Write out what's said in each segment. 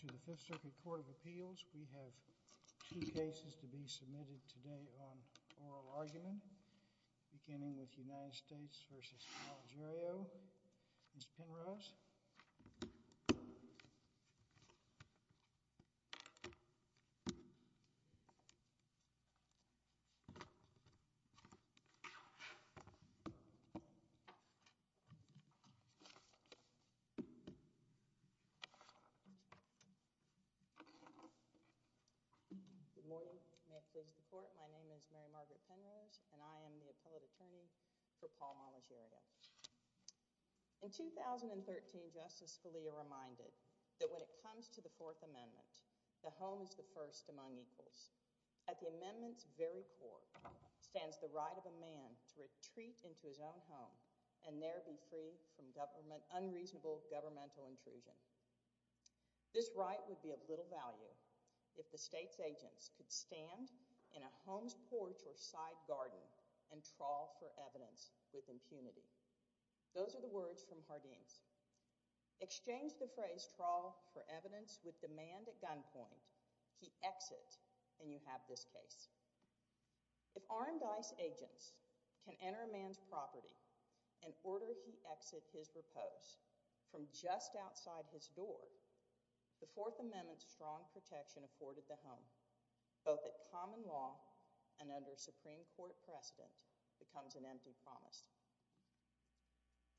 To the Fifth Circuit Court of Appeals we have two cases to be submitted today on oral argument beginning with United States v. Malagerio. Ms. Penrose? Good morning. May it please the court, my name is Mary Margaret Penrose and I am the 13th Justice Scalia reminded that when it comes to the Fourth Amendment the home is the first among equals. At the amendment's very core stands the right of a man to retreat into his own home and there be free from unreasonable governmental intrusion. This right would be of little value if the State's agents could stand in a home's porch or side garden and trawl for evidence with impunity. Those are the words from Hardeen's. Exchange the phrase trawl for evidence with demand at gunpoint, he exits, and you have this case. If armed ICE agents can enter a man's property and order he exit his repose from just outside his door, the Fourth Amendment's strong protection afforded the home both at common law and under Supreme Court precedent becomes an empty promise.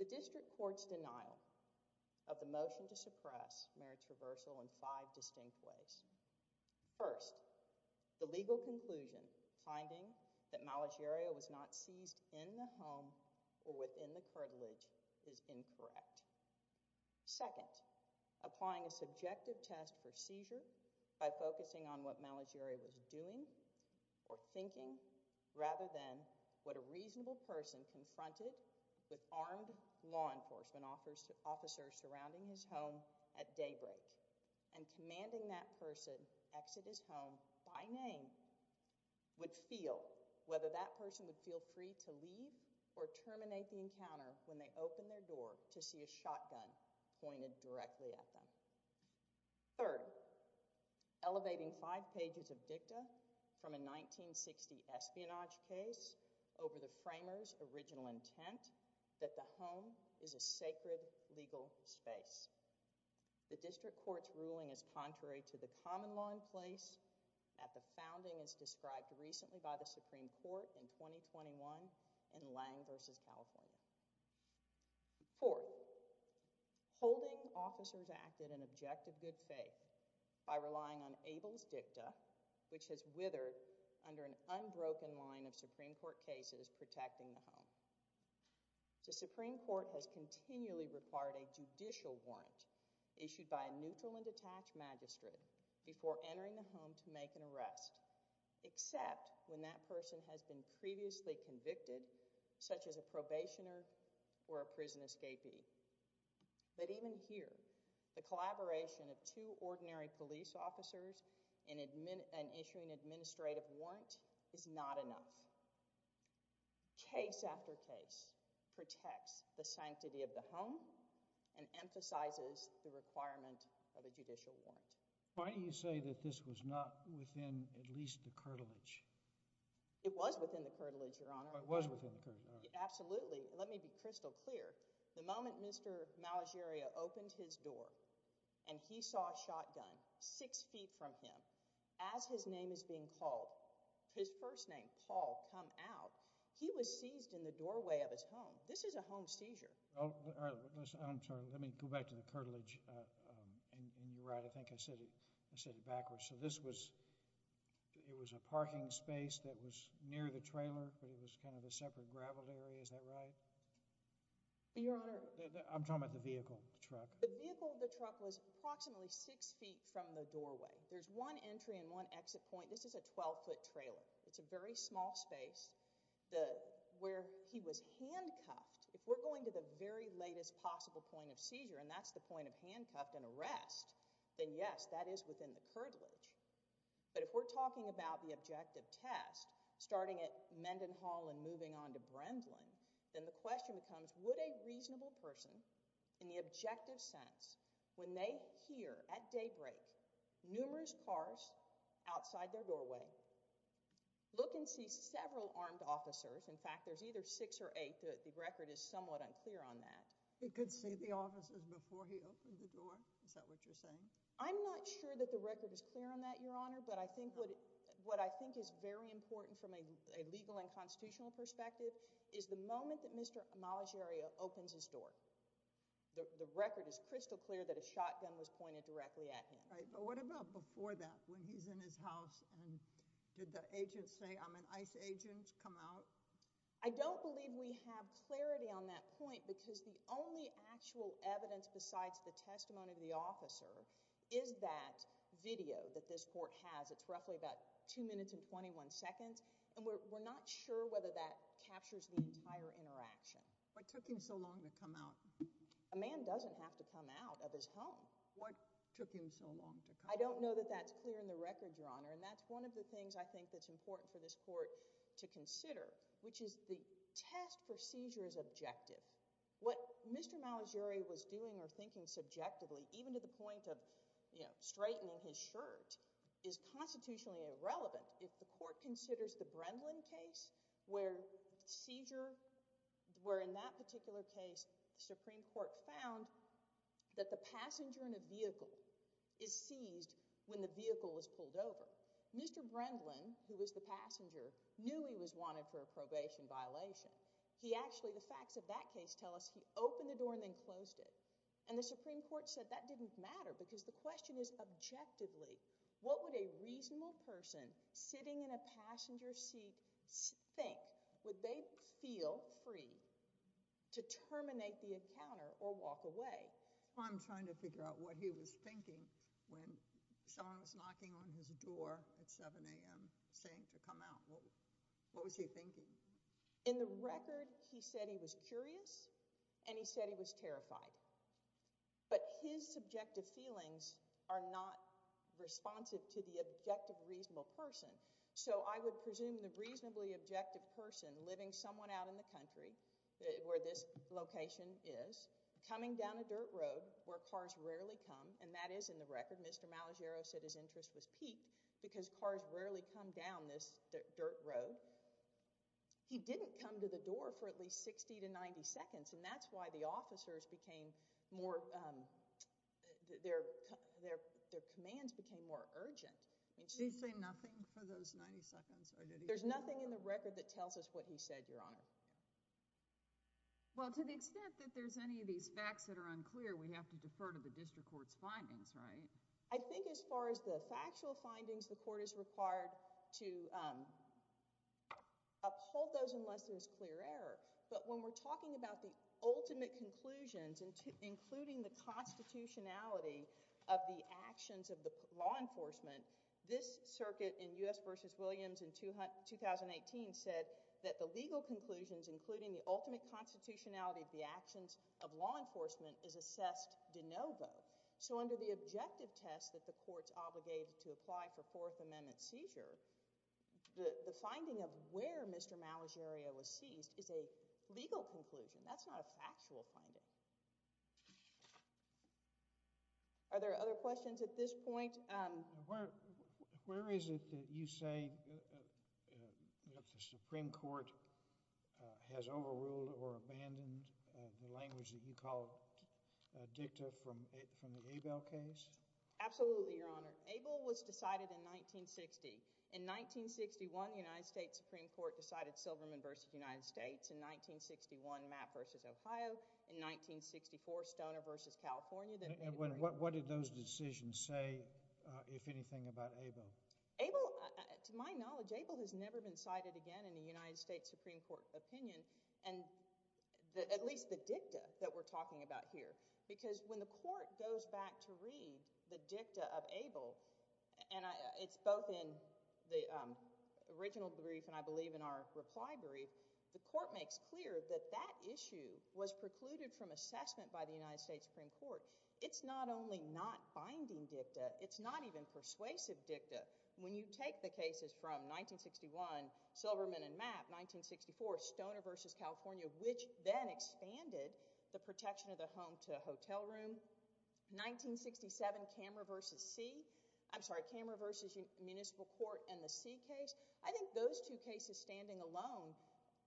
The District Court's denial of the motion to suppress marriage reversal in five distinct ways. First, the legal conclusion finding that Malagiaria was not seized in the home or within the cartilage is incorrect. Second, applying a subjective test for seizure by focusing on what Malagiaria was doing or thinking rather than what a reasonable person confronted with armed law enforcement officers surrounding his home at daybreak and commanding that person exit his home by name would feel whether that person would feel free to leave or terminate the encounter when they opened their door to see a shotgun pointed directly at them. Third, elevating five pages of dicta from a 1960 espionage case over the framer's original intent that the home is a sacred legal space. The District Court's ruling is contrary to the common law in place at the founding as described recently by the Supreme Court in 2021 in Lang v. California. Fourth, holding officers acted in objective good faith by relying on Abel's dicta which has withered under an unbroken line of Supreme Court cases protecting the home. The Supreme Court has continually required a judicial warrant issued by a neutral and detached magistrate before entering the home to make an arrest except when that person has been previously convicted such as a probationer or a prison escapee. But even here, the collaboration of two ordinary police officers and issuing an administrative warrant is not enough. Case after case protects the sanctity of the home and emphasizes the requirement of a judicial warrant. Why do you say that this was not within at least the curtilage? It was within the curtilage, Your Honor. It was within the curtilage, all right. Absolutely. Let me be crystal clear. The moment Mr. Malagiria opened his door and he saw a shotgun six feet from him as his name is being called, his first name, Paul, come out, he was seized in the doorway of his home. This is a home seizure. Oh, all right. Listen, I'm sorry. Let me go back to the curtilage and you're right. I think I said it backwards. So this was, it was a parking space that was near the trailer, but it was kind of a separate graveled area. Is that right? Your Honor. I'm talking about the vehicle, the truck. The vehicle, the truck was approximately six feet from the doorway. There's one entry and one exit point. This is a 12-foot trailer. It's a very small space. Where he was handcuffed, if we're going to the very latest possible point of seizure, and that's the point of handcuffed and arrest, then yes, that is within the curtilage. But if we're talking about the objective test, starting at Mendenhall and moving on to Brendlin, then the question becomes, would a reasonable person in the objective sense, when they hear at daybreak, numerous cars outside their doorway, look and see several armed officers? In fact, there's either six or eight. The record is somewhat unclear on that. He could see the officers before he opened the door? Is that what you're saying? I'm not sure that the record is clear on that, Your Honor, but I think what, what I think is very important from a legal and constitutional perspective is the moment that Mr. Amalegre opens his door. The record is crystal clear that a shotgun was pointed directly at him. Right, but what about before that, when he's in his house and did the agent say, I'm an ICE agent, come out? I don't believe we have clarity on that point because the only actual evidence besides the testimony of the officer is that video that this court has. It's roughly about two minutes and 21 seconds, and we're not sure whether that captures the entire interaction. What took him so long to come out? A man doesn't have to come out of his home. What took him so long to come out? I don't know that that's clear in the record, Your Honor, and that's one of the things I think that's important for this court to consider, which is the test for seizure is objective. What Mr. Amalegre was doing or thinking subjectively, even to the point of, you know, straightening his shirt, is constitutionally irrelevant if the court considers the Brendlin case where seizure, where in that particular case, the Supreme Court found that the passenger in a vehicle is seized when the vehicle is pulled over. Mr. Brendlin, who was the passenger, knew he was wanted for a probation violation. He actually, the facts of that case tell us he opened the door and then closed it, and the Supreme Court said that didn't matter because the question is objectively, what would a reasonable person sitting in a passenger seat think? Would they feel free to terminate the encounter or walk away? I'm trying to figure out what he was thinking when someone was knocking on his door at 7 a.m. saying to come out. What was he thinking? In the record, he said he was curious and he said he was terrified, but his subjective feelings are not responsive to the objective reasonable person, so I would presume the reasonably objective person living someone out in the country where this location is, coming down a dirt road where cars rarely come, and that is in the record, Mr. Malagiero said his interest was piqued because cars rarely come down this dirt road. He didn't come to the door for at least 60 to 90 seconds, and that's why the officers became more, their commands became more urgent. Did he say nothing for those 90 seconds? There's nothing in the record that tells us what he said, Your Honor. Well, to the extent that there's any of these facts that are unclear, we have to defer to the district court's findings, right? I think as far as the factual findings, the court is required to uphold those unless there's clear error, but when we're talking about the ultimate conclusions, including the constitutionality of the actions of the law enforcement, this circuit in U.S. v. Williams in 2018 said that the legal conclusions, including the ultimate constitutionality of the actions of law enforcement, is assessed de novo. So under the objective test that the court's obligated to apply for Fourth Amendment seizure, the finding of where Mr. Malagiero was seized is a legal conclusion. That's not a factual finding. Are there other questions at this point? Where is it that you say the Supreme Court has overruled or abandoned the language that you call dicta from the Abel case? Absolutely, Your Honor. Abel was decided in 1960. In 1961, the United States Supreme Court decided Silverman v. United States. In 1961, Mapp v. Ohio. In 1964, Stoner v. California. What did those decisions say, if anything, about Abel? To my knowledge, Abel has never been cited again in a United States Supreme Court opinion, and at least the dicta that we're talking about here, because when the court goes back to read the dicta of Abel, and it's both in the original brief and I believe in our reply brief, the court makes clear that that issue was precluded from assessment by the United States Supreme Court. It's not only not binding dicta, it's not even persuasive dicta. When you take the cases from 1961, Silverman and Mapp, 1964, Stoner v. California, which then expanded the protection of the home to hotel room, 1967, Cameron v. C, I'm sorry, Cameron v. Municipal Court and the C case, I think those two cases standing alone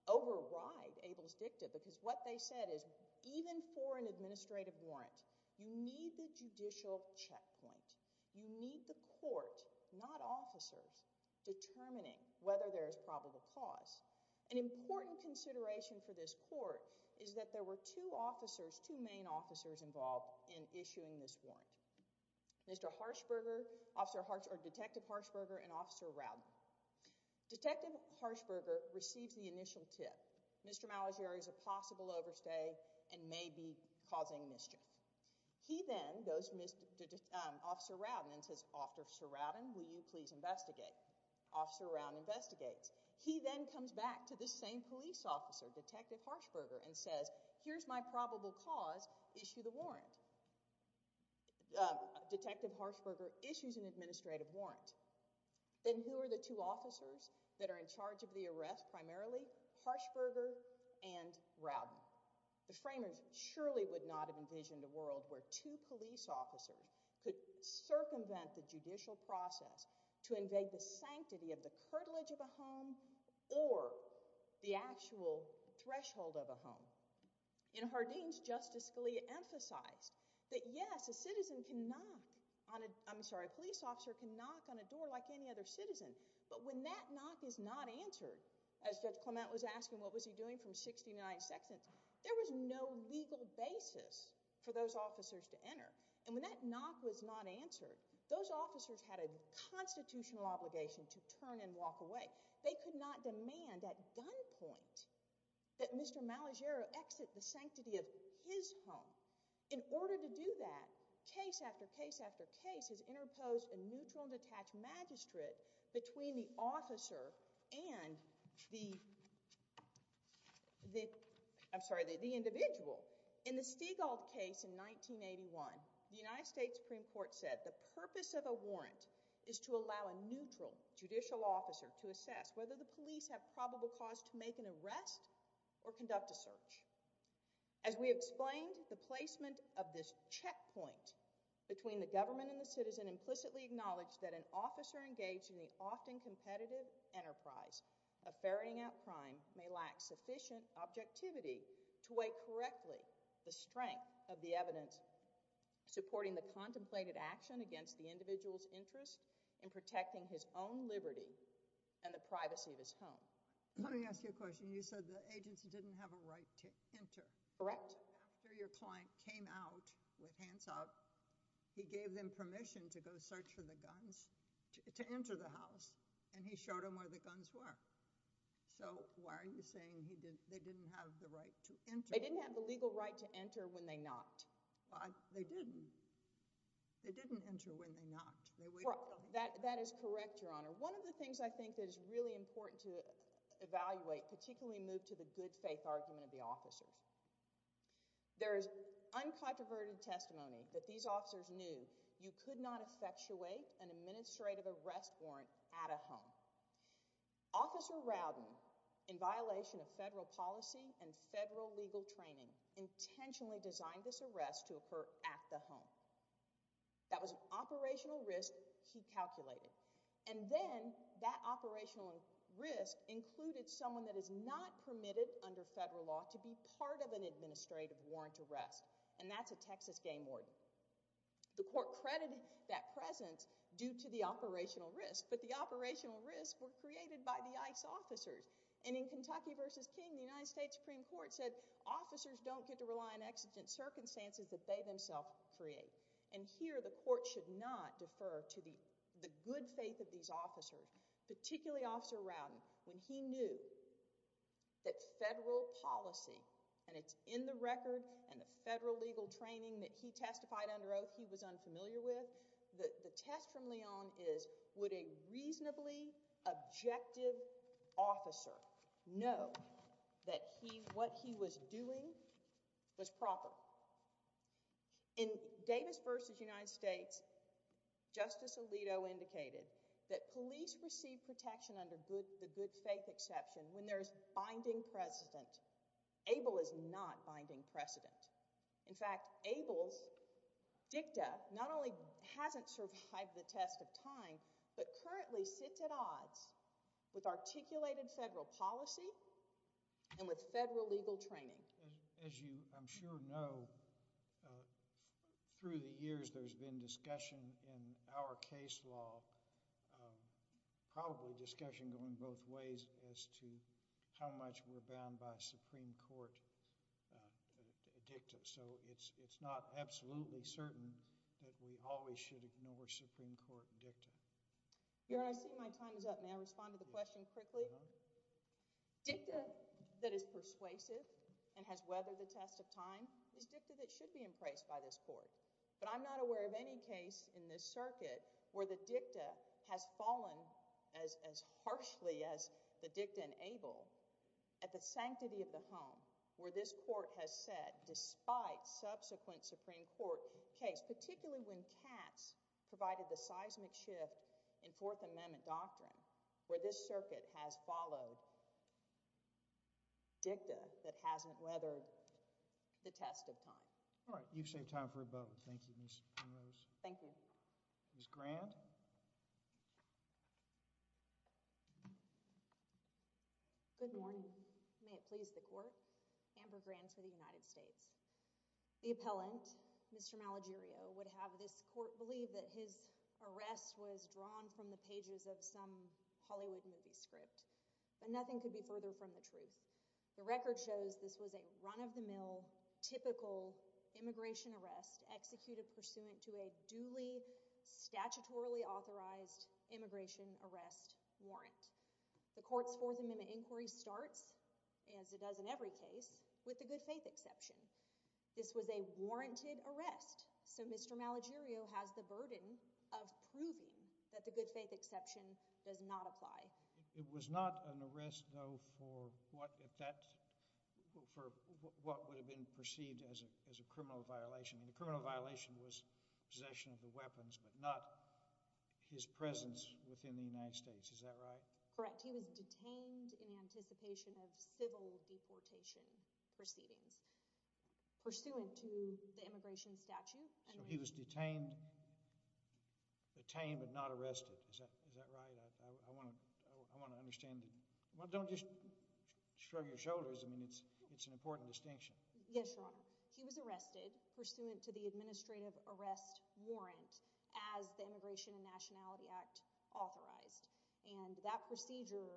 override Abel's dicta, because what they said is even for an administrative warrant, you need the judicial checkpoint. You need the court, not officers, determining whether there is probable cause. An important consideration for this court is that there were two officers, two main officers involved in issuing this warrant, Mr. Harshberger, Detective Harshberger and Officer Rowden. Detective Harshberger receives the initial tip, Mr. Malagieri is a possible overstay and may be causing mischief. He then goes to Officer Rowden and says, Officer Rowden, will you please investigate? Officer Rowden investigates. He then comes back to the same police officer, Detective Harshberger and says, here's my probable cause, issue the warrant. Detective Harshberger issues an administrative warrant. Then who are the two officers that are in charge of the arrest primarily? Harshberger and Rowden. The framers surely would not have envisioned a world where two police officers could circumvent the judicial process to invade the sanctity of the curtilage of a home or the actual threshold of a home. In Hardeen's, Justice Scalia emphasized that yes, a citizen can knock on a, I'm sorry, a police officer can knock on a door like any other citizen, but when that knock is not answered, as Judge Clement was asking, what was he doing from 69 seconds? There was no legal basis for those officers to enter. And when that knock was not answered, those officers had a constitutional obligation to turn and walk away. They could not demand at gunpoint that Mr. Malagieri exit the sanctity of his home. In order to do that, case after case after case has interposed a neutral and detached magistrate between the officer and the, I'm sorry, the individual. In the Stiegald case in 1981, the United States Supreme Court said the purpose of a warrant is to allow a neutral judicial officer to assess whether the police have probable cause to make an arrest or conduct a search. As we explained, the placement of this checkpoint between the government and the citizen implicitly acknowledged that an officer engaged in the often competitive enterprise of ferreting out crime may lack sufficient objectivity to weigh correctly the strength of the evidence supporting the contemplated action against the individual's interest in protecting his own liberty and the privacy of his home. Let me ask you a question. You said the agency didn't have a right to enter. Correct. After your client came out with hands up, he gave them permission to go search for the guns, to enter the house, and he showed them where the guns were. So why are you saying they didn't have the right to enter? They didn't have the legal right to enter when they knocked. They didn't. They didn't enter when they knocked. That is correct, Your Honor. One of the things I think that is really important to evaluate, particularly moved to the good faith argument of the officers. There is uncontroverted testimony that these officers knew you could not effectuate an administrative arrest warrant at a home. Officer Rowden, in violation of federal policy and federal legal training, intentionally designed this arrest to occur at the home. That was an operational risk he calculated. And then that operational risk included someone that is not permitted under federal law to be part of an administrative warrant arrest, and that's a Texas game warden. The court credited that presence due to the operational risk, but the operational risks were created by the ICE officers. And in Kentucky v. King, the United States Supreme Court said officers don't get to rely on exigent circumstances that they themselves create. And here the court should not defer to the good faith of these officers, particularly Officer Rowden. When he knew that federal policy, and it's in the record and the federal legal training that he testified under oath he was unfamiliar with, the test from Leon is would a reasonably objective officer know that what he was doing was proper? In Davis v. United States, Justice Alito indicated that police receive protection under the good faith exception when there's binding precedent. ABLE is not binding precedent. In fact, ABLE's dicta not only hasn't survived the test of time, but currently sits at odds with articulated federal policy and with federal legal training. As you I'm sure know, through the years there's been discussion in our case law, probably discussion going both ways as to how much we're bound by Supreme Court dicta. So it's not absolutely certain that we always should ignore Supreme Court dicta. Your Honor, I see my time is up. May I respond to the question quickly? Your Honor? Dicta that is persuasive and has weathered the test of time is dicta that should be embraced by this Court. But I'm not aware of any case in this circuit where the dicta has fallen as harshly as the dicta in ABLE at the sanctity of the home where this Court has set, despite subsequent Supreme Court case, particularly when Katz provided the seismic shift in Fourth Amendment doctrine, where this circuit has followed dicta that hasn't weathered the test of time. All right. You've saved time for a moment. Thank you, Ms. Pamos. Thank you. Ms. Grant? Good morning. May it please the Court. Amber Grant for the United States. The appellant, Mr. Malagirio, would have this Court believe that his arrest was drawn from the pages of some Hollywood movie script, but nothing could be further from the truth. The record shows this was a run-of-the-mill, typical immigration arrest executed pursuant to a duly, statutorily authorized immigration arrest warrant. The Court's Fourth Amendment inquiry starts, as it does in every case, with the good faith exception. This was a warranted arrest, so Mr. Malagirio has the burden of proving that the good faith exception does not apply. It was not an arrest, though, for what if that—for what would have been perceived as a criminal violation. And the criminal violation was possession of the weapons, but not his presence within the United States. Is that right? Correct. He was detained in anticipation of civil deportation proceedings pursuant to the immigration statute. So he was detained—detained, but not arrested. Is that—is that right? I want to—I want to understand—well, don't just shrug your shoulders. I mean, it's—it's an important distinction. Yes, Your Honor. He was arrested pursuant to the administrative arrest warrant as the Immigration and Nationality Act authorized. And that procedure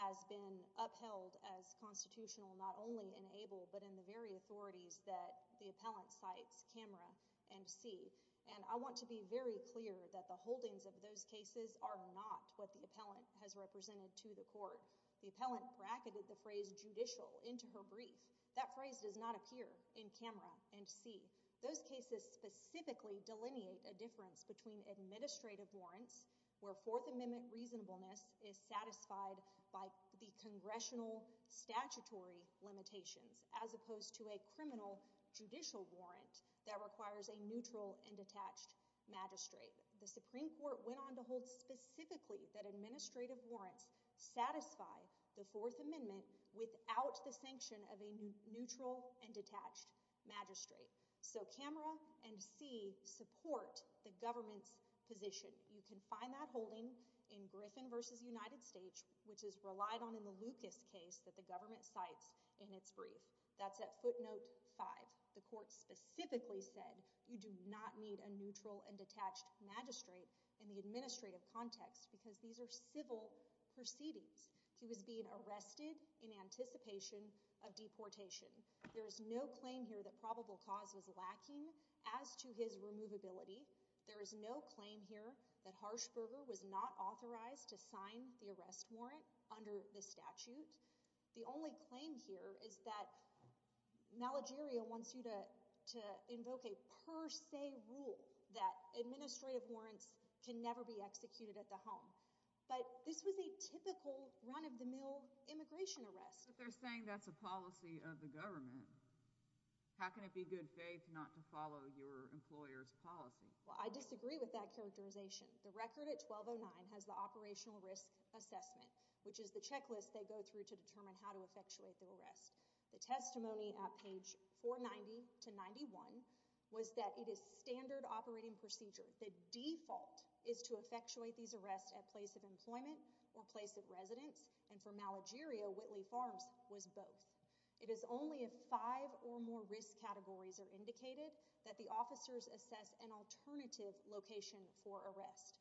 has been upheld as constitutional, not only in ABLE, but in the very authorities that the appellant cites, camera and see. And I want to be very clear that the holdings of those cases are not what the appellant has represented to the court. The appellant bracketed the phrase judicial into her brief. That phrase does not appear in camera and see. Those cases specifically delineate a difference between administrative warrants, where Fourth Amendment reasonableness is satisfied by the congressional statutory limitations, as opposed to a criminal judicial warrant that requires a neutral and detached magistrate. The Supreme Court went on to hold specifically that administrative warrants satisfy the Fourth Amendment without the sanction of a neutral and detached magistrate. So camera and see support the government's position. You can find that holding in Griffin v. United States, which is relied on in the Lucas case that the government cites in its brief. That's at footnote five. The court specifically said you do not need a neutral and detached magistrate in the administrative context because these are civil proceedings. He was being arrested in anticipation of deportation. There is no claim here that probable cause was lacking as to his removability. There is no claim here that Harshberger was not authorized to sign the arrest warrant under the statute. The only claim here is that Malageria wants you to invoke a per se rule that administrative warrants can never be executed at the home. But this was a typical run-of-the-mill immigration arrest. But they're saying that's a policy of the government. How can it be good faith not to follow your employer's policy? Well, I disagree with that characterization. The record at 1209 has the operational risk assessment, which is the checklist they go through to determine how to effectuate the arrest. The testimony at page 490 to 91 was that it is standard operating procedure. The default is to effectuate these arrests at place of employment or place of residence. And for Malageria, Whitley Farms was both. It is only if five or more risk categories are indicated that the officers assess an alternative location for arrest.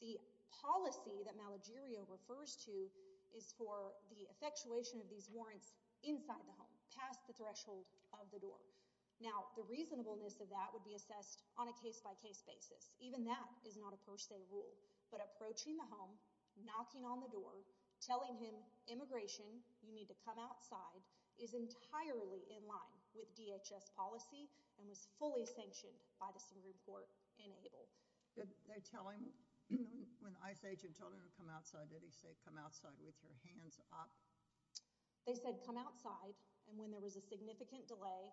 The policy that Malageria refers to is for the effectuation of these warrants inside the home, past the threshold of the door. Now, the reasonableness of that would be assessed on a case-by-case basis. Even that is not a per se rule. But approaching the home, knocking on the door, telling him, immigration, you need to come outside, is entirely in line with DHS policy and was fully sanctioned by the Supreme Court in Abel. Did they tell him, when ICE agent told him to come outside, did he say, come outside with your hands up? They said, come outside. And when there was a significant delay,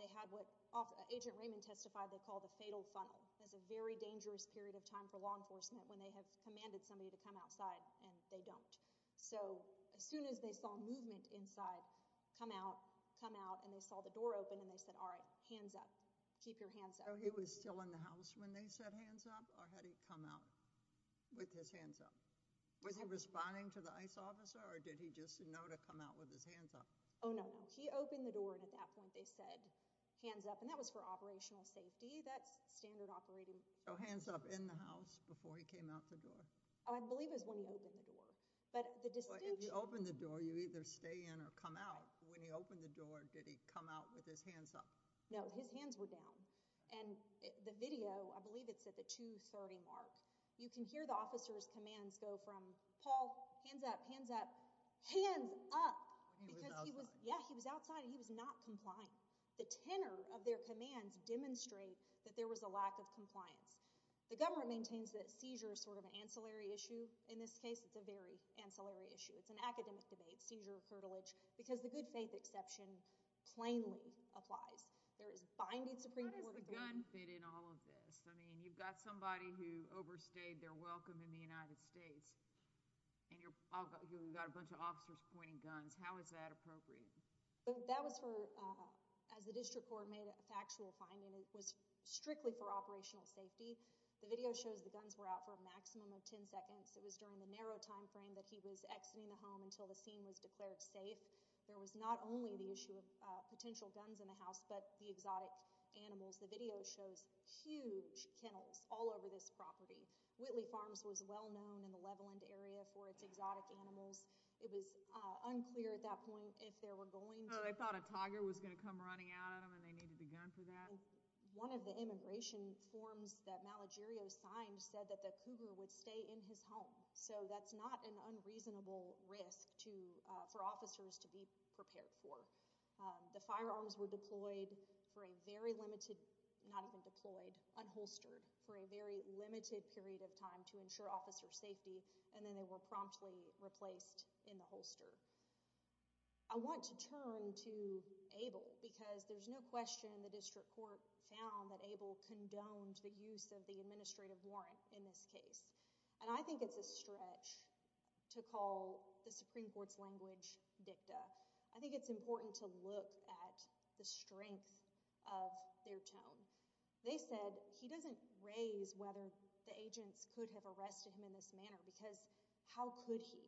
they had what Agent Raymond testified they called a fatal funnel. That's a very dangerous period of time for law enforcement when they have commanded somebody to come outside and they don't. So as soon as they saw movement inside, come out, come out, and they saw the door open and they said, all right, hands up. Keep your hands up. So he was still in the house when they said, hands up? Or had he come out with his hands up? Was he responding to the ICE officer? Or did he just know to come out with his hands up? Oh, no, no. He opened the door and at that point they said, hands up. And that was for operational safety. That's standard operating. So hands up in the house before he came out the door? Oh, I believe it was when he opened the door. But the dispute— If you open the door, you either stay in or come out. When he opened the door, did he come out with his hands up? No, his hands were down. And the video, I believe it's at the 2.30 mark. You can hear the officer's commands go from, Paul, hands up, hands up, hands up. He was outside. Yeah, he was outside. He was not complying. The tenor of their commands demonstrate that there was a lack of compliance. The government maintains that seizure is sort of an ancillary issue. In this case, it's a very ancillary issue. It's an academic debate, seizure, heritage, because the good faith exception plainly applies. There is binding Supreme Court authority— How does the gun fit in all of this? I mean, you've got somebody who overstayed their welcome in the United States, and you've got a bunch of officers pointing guns. How is that appropriate? That was for—as the district court made a factual finding, it was strictly for operational safety. The video shows the guns were out for a maximum of 10 seconds. It was during the narrow time frame that he was exiting the home until the scene was declared safe. There was not only the issue of potential guns in the house, but the exotic animals. The video shows huge kennels all over this property. Whitley Farms was well known in the Leveland area for its exotic animals. It was unclear at that point if they were going to— Oh, they thought a tiger was going to come running at them, and they needed a gun for that? One of the immigration forms that Malagirio signed said that the cougar would stay in his home, so that's not an unreasonable risk for officers to be prepared for. The firearms were deployed for a very limited— not even deployed, unholstered for a very limited period of time to ensure officer safety, and then they were promptly replaced in the holster. I want to turn to Abel because there's no question the district court found that Abel condoned the use of the administrative warrant in this case, and I think it's a stretch to call the Supreme Court's language dicta. I think it's important to look at the strength of their tone. They said he doesn't raise whether the agents could have arrested him in this manner, because how could he?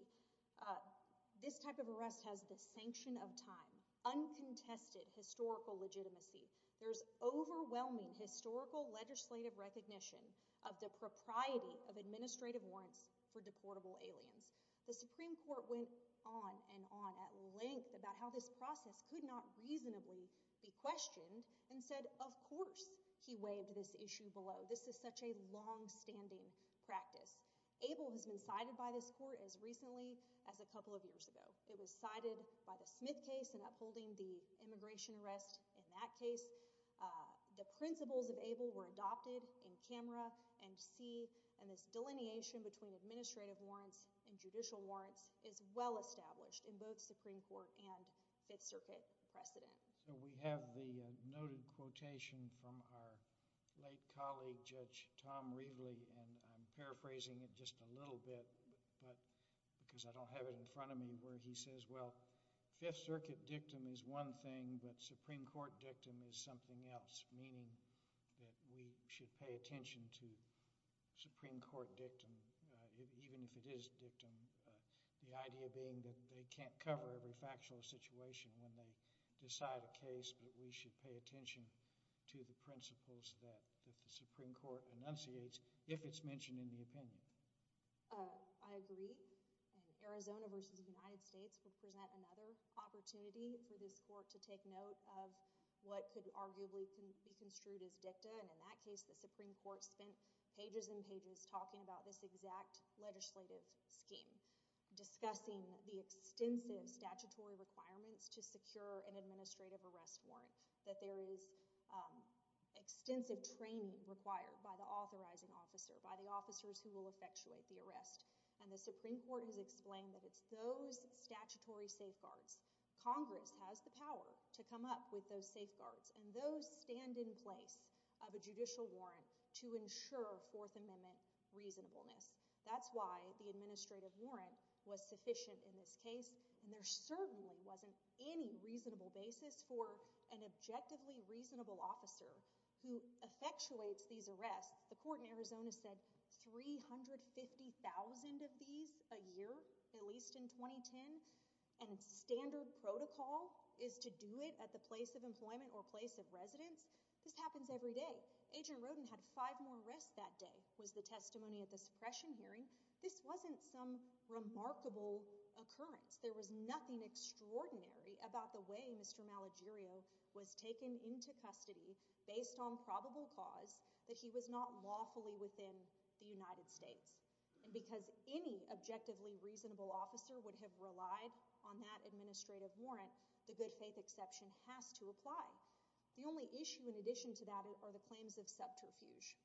This type of arrest has the sanction of time, uncontested historical legitimacy. There's overwhelming historical legislative recognition of the propriety of administrative warrants for deportable aliens. The Supreme Court went on and on at length about how this process could not reasonably be questioned, and said of course he waived this issue below. This is such a long-standing practice. Abel has been cited by this court as recently as a couple of years ago. It was cited by the Smith case and upholding the immigration arrest in that case. The principles of Abel were adopted in camera and see, and this delineation between administrative warrants and judicial warrants is well established in both Supreme Court and Fifth Circuit precedent. So we have the noted quotation from our late colleague, Judge Tom Reveley, and I'm paraphrasing it just a little bit, because I don't have it in front of me, where he says, well, Fifth Circuit dictum is one thing, but Supreme Court dictum is something else, meaning that we should pay attention to Supreme Court dictum, even if it is dictum, the idea being that they can't cover every factual situation when they decide a case, but we should pay attention to the principles that the Supreme Court enunciates if it's mentioned in the opinion. I agree. Arizona versus the United States would present another opportunity for this court to take note of what could arguably be construed as dicta, and in that case, the Supreme Court spent pages and pages talking about this exact legislative scheme, discussing the extensive statutory requirements to secure an administrative arrest warrant, that there is extensive training required by the authorizing officer, by the officers who will effectuate the arrest, and the Supreme Court has explained that it's those statutory safeguards, Congress has the power to come up with those safeguards, and those stand in place of a judicial warrant to ensure Fourth Amendment reasonableness. That's why the administrative warrant was sufficient in this case, and there certainly wasn't any reasonable basis for an objectively reasonable officer who effectuates these arrests. The court in Arizona said 350,000 of these a year, at least in 2010, and standard protocol is to do it at the place of employment or place of residence. This happens every day. Agent Roden had five more arrests that day, was the testimony at the suppression hearing. This wasn't some remarkable occurrence. There was nothing extraordinary about the way Mr. Malagirio was taken into custody based on probable cause that he was not lawfully within the United States, and because any objectively reasonable officer would have relied on that administrative warrant, the good faith exception has to apply. The only issue in addition to that are the claims of subterfuge.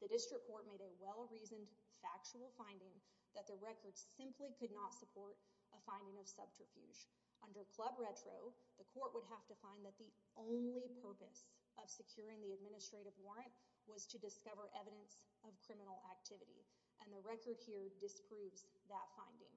The district court made a well-reasoned factual finding that the record simply could not support a finding of subterfuge. Under Club Retro, the court would have to find that the only purpose of securing the administrative warrant was to discover evidence of criminal activity, and the record here disproves that finding.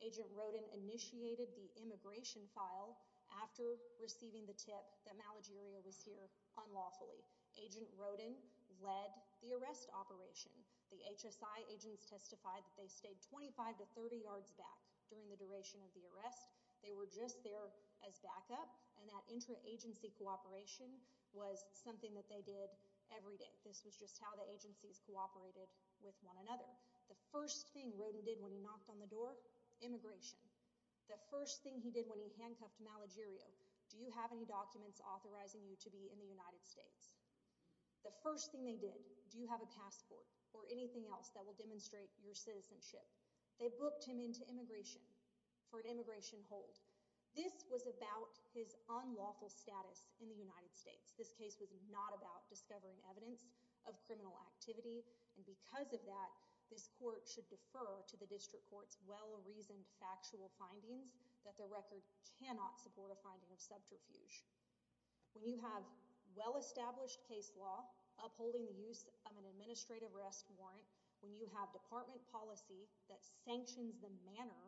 Agent Roden initiated the immigration file after receiving the tip that Malagirio was here unlawfully. Agent Roden led the arrest operation. The HSI agents testified that they stayed 25 to 30 yards back during the duration of the arrest. They were just there as backup, and that intra-agency cooperation was something that they did every day. This was just how the agencies cooperated with one another. The first thing Roden did when he knocked on the door, immigration. The first thing he did when he handcuffed Malagirio, do you have any documents authorizing you to be in the United States? The first thing they did, do you have a passport or anything else that will demonstrate your citizenship? They booked him into immigration for an immigration hold. This was about his unlawful status in the United States. This case was not about discovering evidence of criminal activity, and because of that, this court should defer to the district court's well-reasoned factual findings that the record cannot support a finding of subterfuge. When you have well-established case law upholding the use of an administrative arrest warrant, when you have department policy that sanctions the manner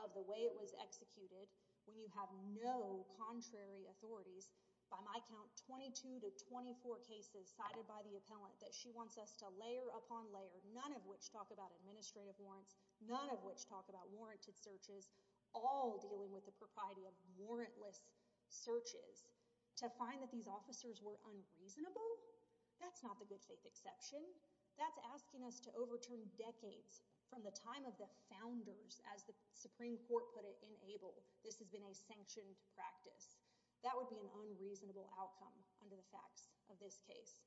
of the way it was executed, when you have no contrary authorities, by my count, 22 to 24 cases cited by the appellant that she wants us to layer upon layer, none of which talk about administrative warrants, none of which talk about warranted searches, all dealing with the propriety of warrantless searches, to find that these officers were unreasonable, that's not the good faith exception. That's asking us to overturn decades from the time of the founders, as the Supreme Court put it in Abel, this has been a sanctioned practice. That would be an unreasonable outcome under the facts of this case.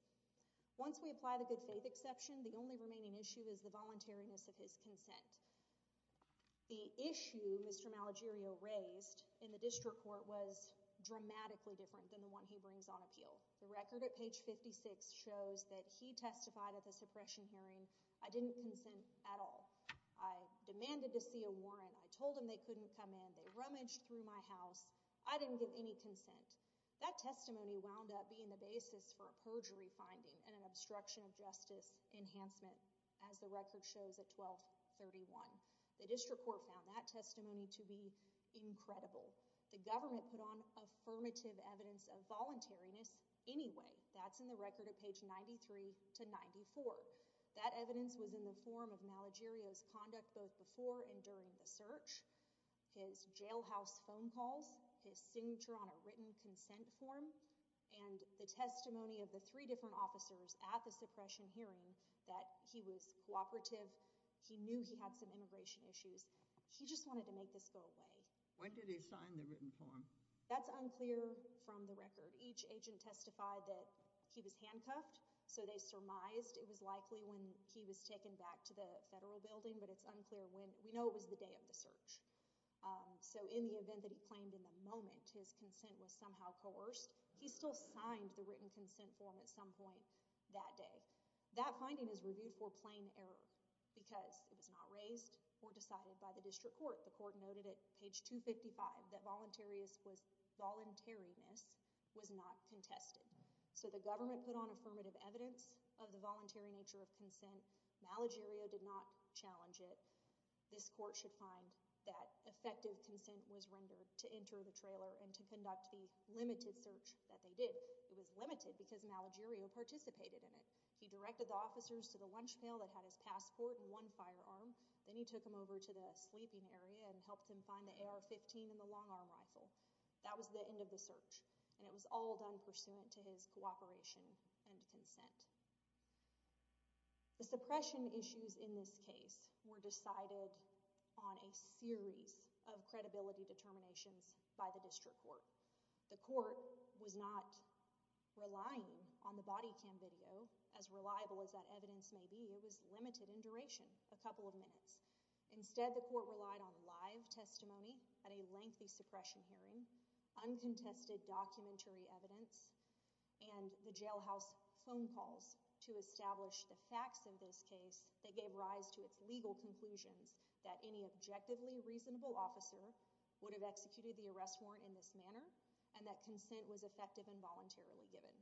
Once we apply the good faith exception, the only remaining issue is the voluntariness of his consent. The issue Mr. Malagirio raised in the district court was dramatically different than the one he brings on appeal. The record at page 56 shows that he testified at the suppression hearing, I didn't consent at all. I demanded to see a warrant. I told him they couldn't come in. They rummaged through my house. I didn't give any consent. That testimony wound up being the basis for a perjury finding and an obstruction of justice enhancement, as the record shows at 1231. The district court found that testimony to be incredible. The government put on affirmative evidence of voluntariness anyway. That's in the record at page 93 to 94. That evidence was in the form of Malagirio's conduct both before and during the search, his jailhouse phone calls, his signature on a written consent form, and the testimony of the three different officers at the suppression hearing that he was cooperative. He knew he had some immigration issues. He just wanted to make this go away. When did he sign the written form? That's unclear from the record. Each agent testified that he was handcuffed, so they surmised it was likely when he was taken back to the federal building, but it's unclear when. We know it was the day of the search. So in the event that he claimed in the moment his consent was somehow coerced, he still signed the written consent form at some point that day. That finding is reviewed for plain error because it was not raised or decided by the district court. The court noted at page 255 that voluntariness was not contested. So the government put on affirmative evidence of the voluntary nature of consent. Malagirio did not challenge it. This court should find that effective consent was rendered to enter the trailer and to conduct the limited search that they did. It was limited because Malagirio participated in it. He directed the officers to the lunch pail that had his passport and one firearm. Then he took him over to the sleeping area and helped him find the AR-15 and the long-arm rifle. That was the end of the search, and it was all done pursuant to his cooperation and consent. The suppression issues in this case were decided on a series of credibility determinations by the district court. The court was not relying on the body cam video as reliable as that evidence may be. It was limited in duration, a couple of minutes. Instead, the court relied on live testimony at a lengthy suppression hearing, uncontested documentary evidence, and the jailhouse phone calls to establish the facts of this case that gave rise to its legal conclusions that any objectively reasonable officer would have executed the arrest warrant in this manner and that consent was effective and voluntarily given.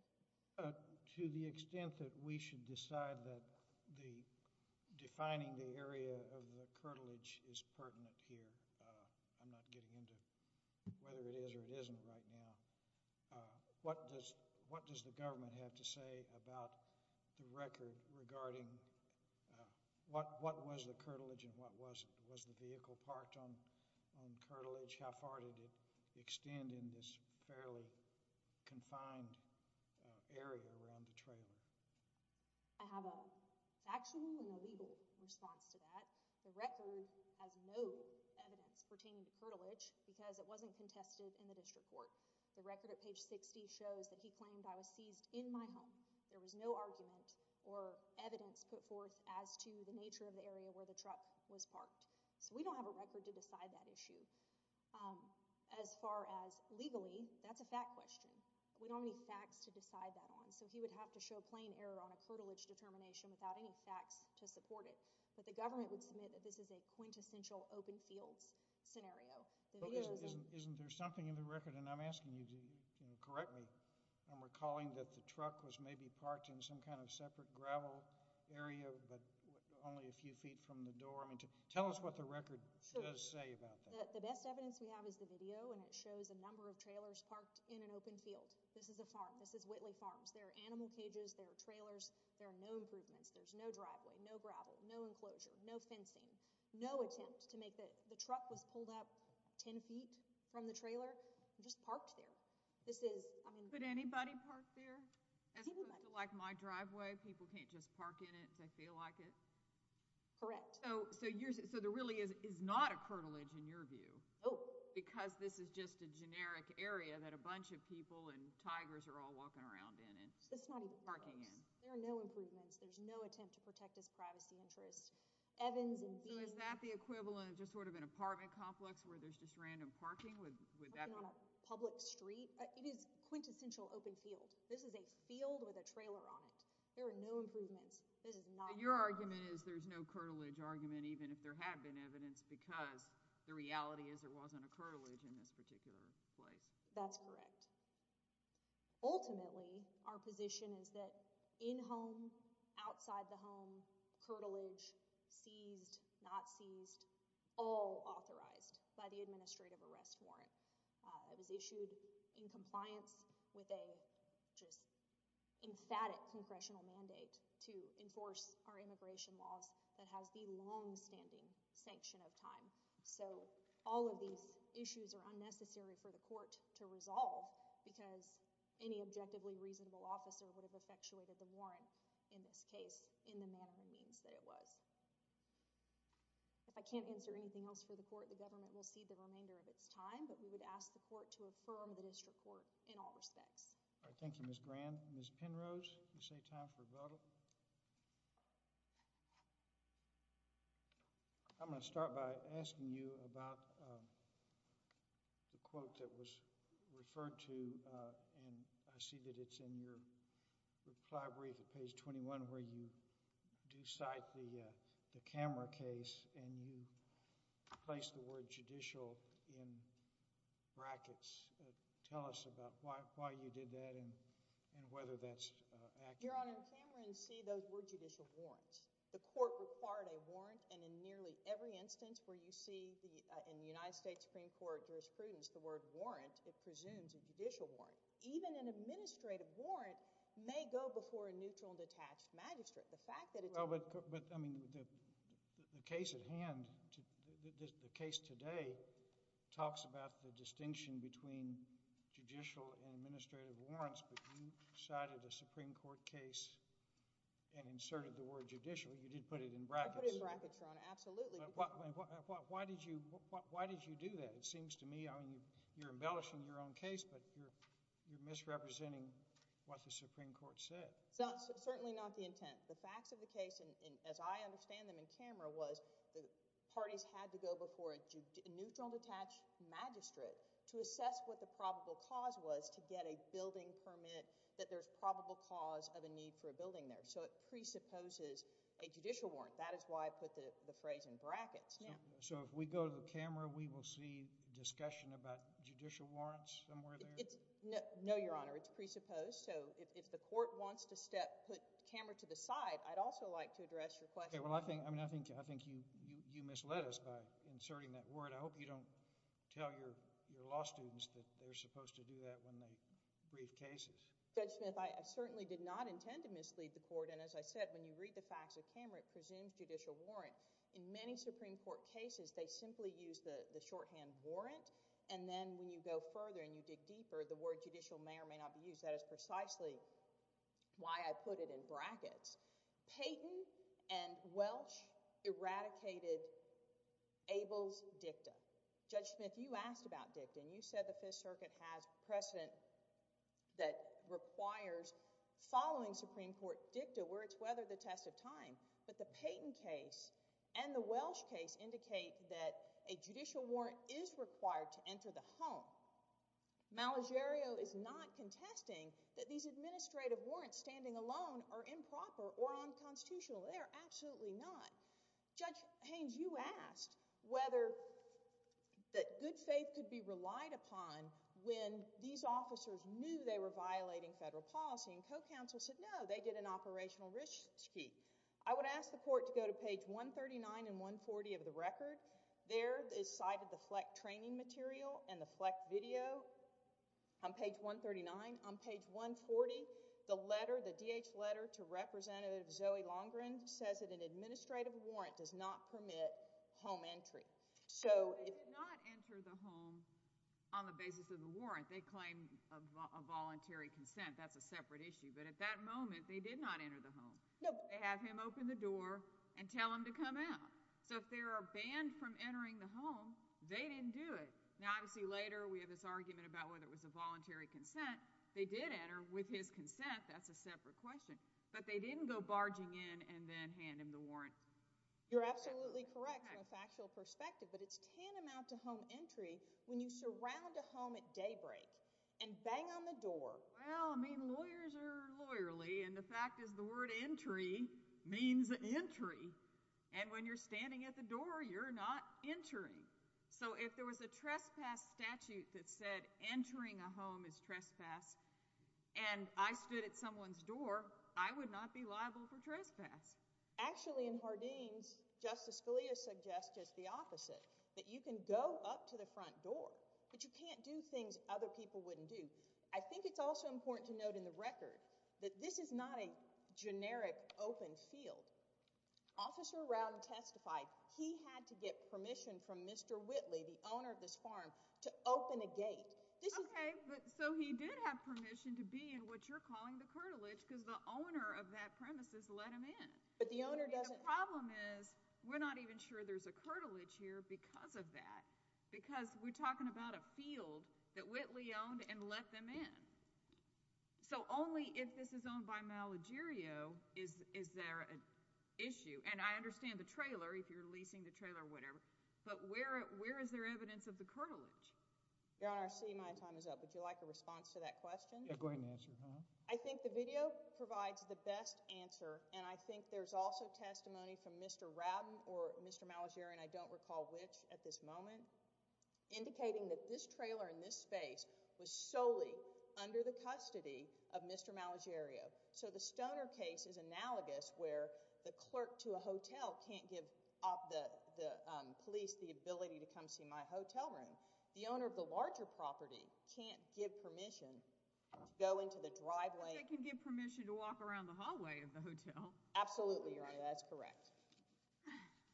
Uh, to the extent that we should decide that the defining the area of the cartilage is pertinent here, uh, I'm not getting into whether it is or it isn't right now. Uh, what does, what does the government have to say about the record regarding, uh, what, what was the cartilage and what was, was the vehicle parked on, on cartilage? How far did it extend in this fairly confined, uh, area around the trailer? I have a factual and a legal response to that. The record has no evidence pertaining to cartilage because it wasn't contested in the district court. The record at page 60 shows that he claimed, I was seized in my home. There was no argument or evidence put forth as to the nature of the area where the truck was parked. So we don't have a record to decide that issue. Um, as far as legally, that's a fact question. We don't have any facts to decide that on. So he would have to show plain error on a cartilage determination without any facts to support it. But the government would submit that this is a quintessential open fields scenario. Isn't, isn't, isn't there something in the record? And I'm asking you to, you know, correct me. I'm recalling that the truck was maybe parked in some kind of separate gravel area, but only a few feet from the door. I mean, tell us what the record does say about that. The best evidence we have is the video and it shows a number of trailers parked in an open field. This is a farm. This is Whitley Farms. There are animal cages. There are trailers. There are no improvements. There's no driveway, no gravel, no enclosure, no fencing, no attempt to make the, the truck was pulled up 10 feet from the trailer and just parked there. This is, I mean. Could anybody park there? Like my driveway. People can't just park in it if they feel like it. Correct. So, so you're, so there really is, is not a cartilage in your view. Nope. Because this is just a generic area that a bunch of people and tigers are all walking around in and parking in. There are no improvements. There's no attempt to protect his privacy interest. Evans and Bean. So is that the equivalent of just sort of an apartment complex where there's just random parking with, with that. Parking on a public street. It is quintessential open field. This is a field with a trailer on it. There are no improvements. This is not. Your argument is there's no cartilage argument, even if there had been evidence, because the reality is there wasn't a cartilage in this particular place. That's correct. Ultimately, our position is that in home, outside the home, cartilage seized, not seized, all authorized by the administrative arrest warrant. It was issued in compliance with a just emphatic congressional mandate to enforce our immigration laws that has the longstanding sanction of time. So all of these issues are unnecessary for the court to resolve in this case in the manner and means that it was. If I can't answer anything else for the court, the government will cede the remainder of its time, but we would ask the court to affirm the district court in all respects. All right. Thank you, Ms. Graham. Ms. Penrose, you say time for rebuttal. I'm going to start by asking you about the quote that was referred to, and I see that it's in your reply brief at page 21, where you do cite the Cameron case, and you place the word judicial in brackets. Tell us about why you did that and whether that's accurate. Your Honor, Cameron see those were judicial warrants. The court required a warrant, and in nearly every instance where you see in the United States Supreme Court jurisprudence the word warrant, it presumes a judicial warrant. Even an administrative warrant may go before a neutral and detached magistrate. The fact that it's- Well, but I mean the case at hand, the case today talks about the distinction between judicial and administrative warrants, but you cited a Supreme Court case and inserted the word judicial. You did put it in brackets. I put it in brackets, Your Honor. Absolutely. Why did you do that? I mean, you're embellishing your own case, but you're misrepresenting what the Supreme Court said. Certainly not the intent. The facts of the case, as I understand them in camera, was the parties had to go before a neutral and detached magistrate to assess what the probable cause was to get a building permit, that there's probable cause of a need for a building there. So it presupposes a judicial warrant. That is why I put the phrase in brackets. So if we go to the camera, we will see discussion about judicial warrants somewhere there? No, Your Honor. It's presupposed. So if the court wants to put camera to the side, I'd also like to address your question. Well, I think you misled us by inserting that word. I hope you don't tell your law students that they're supposed to do that when they brief cases. Judge Smith, I certainly did not intend to mislead the court. And as I said, when you read the facts of camera, it presumes judicial warrant. In many Supreme Court cases, they simply use the shorthand warrant. And then when you go further and you dig deeper, the word judicial may or may not be used. That is precisely why I put it in brackets. Payton and Welch eradicated Abel's dicta. Judge Smith, you asked about dicta. And you said the Fifth Circuit has precedent that requires following Supreme Court dicta where it's weathered the test of time. But the Payton case and the Welch case indicate that a judicial warrant is required to enter the home. Malagerio is not contesting that these administrative warrants standing alone are improper or unconstitutional. They are absolutely not. Judge Haynes, you asked whether that good faith could be relied upon when these officers knew they were violating federal policy. And co-counsel said, no, they did an operational risky. I would ask the court to go to page 139 and 140 of the record. There is cited the FLEC training material and the FLEC video on page 139. On page 140, the letter, the DH letter to Representative Zoe Longren says that an administrative warrant does not permit home entry. So if- They did not enter the home on the basis of the warrant. They claim a voluntary consent. That's a separate issue. But at that moment, they did not enter the home. They have him open the door and tell him to come out. So if they are banned from entering the home, they didn't do it. Now, obviously, later we have this argument about whether it was a voluntary consent. They did enter with his consent. That's a separate question. But they didn't go barging in and then hand him the warrant. You're absolutely correct from a factual perspective. But it's tantamount to home entry when you surround a home at daybreak and bang on the door. Well, I mean, lawyers are lawyerly. And the fact is the word entry means entry. And when you're standing at the door, you're not entering. So if there was a trespass statute that said entering a home is trespass and I stood at someone's door, I would not be liable for trespass. Actually, in Hardeen's, Justice Scalia suggests just the opposite, that you can go up to the front door, but you can't do things other people wouldn't do. I think it's also important to note in the record that this is not a generic open field. Officer Round testified he had to get permission from Mr. Whitley, the owner of this farm, to open a gate. Okay, but so he did have permission to be in what you're calling the curtilage because the owner of that premise has let him in. But the owner doesn't... The problem is we're not even sure there's a curtilage here because of that, because we're talking about a field that Whitley owned and let them in. So only if this is owned by Malagirio is there an issue. And I understand the trailer, if you're leasing the trailer or whatever, but where is there evidence of the curtilage? Your Honor, I see my time is up. Would you like a response to that question? Yeah, go ahead and answer it, huh? I think the video provides the best answer and I think there's also testimony from Mr. Radden or Mr. Malagirio, and I don't recall which at this moment, indicating that this trailer in this space was solely under the custody of Mr. Malagirio. So the Stoner case is analogous where the clerk to a hotel can't give the police the ability to come see my hotel room. The owner of the larger property can't give permission to go into the driveway. They can give permission to walk around the hallway of the hotel. Absolutely, Your Honor, that's correct.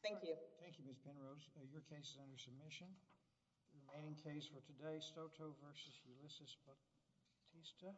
Thank you. Thank you, Ms. Penrose. Your case is under submission. The remaining case for today, Stoto v. Ulysses Bautista.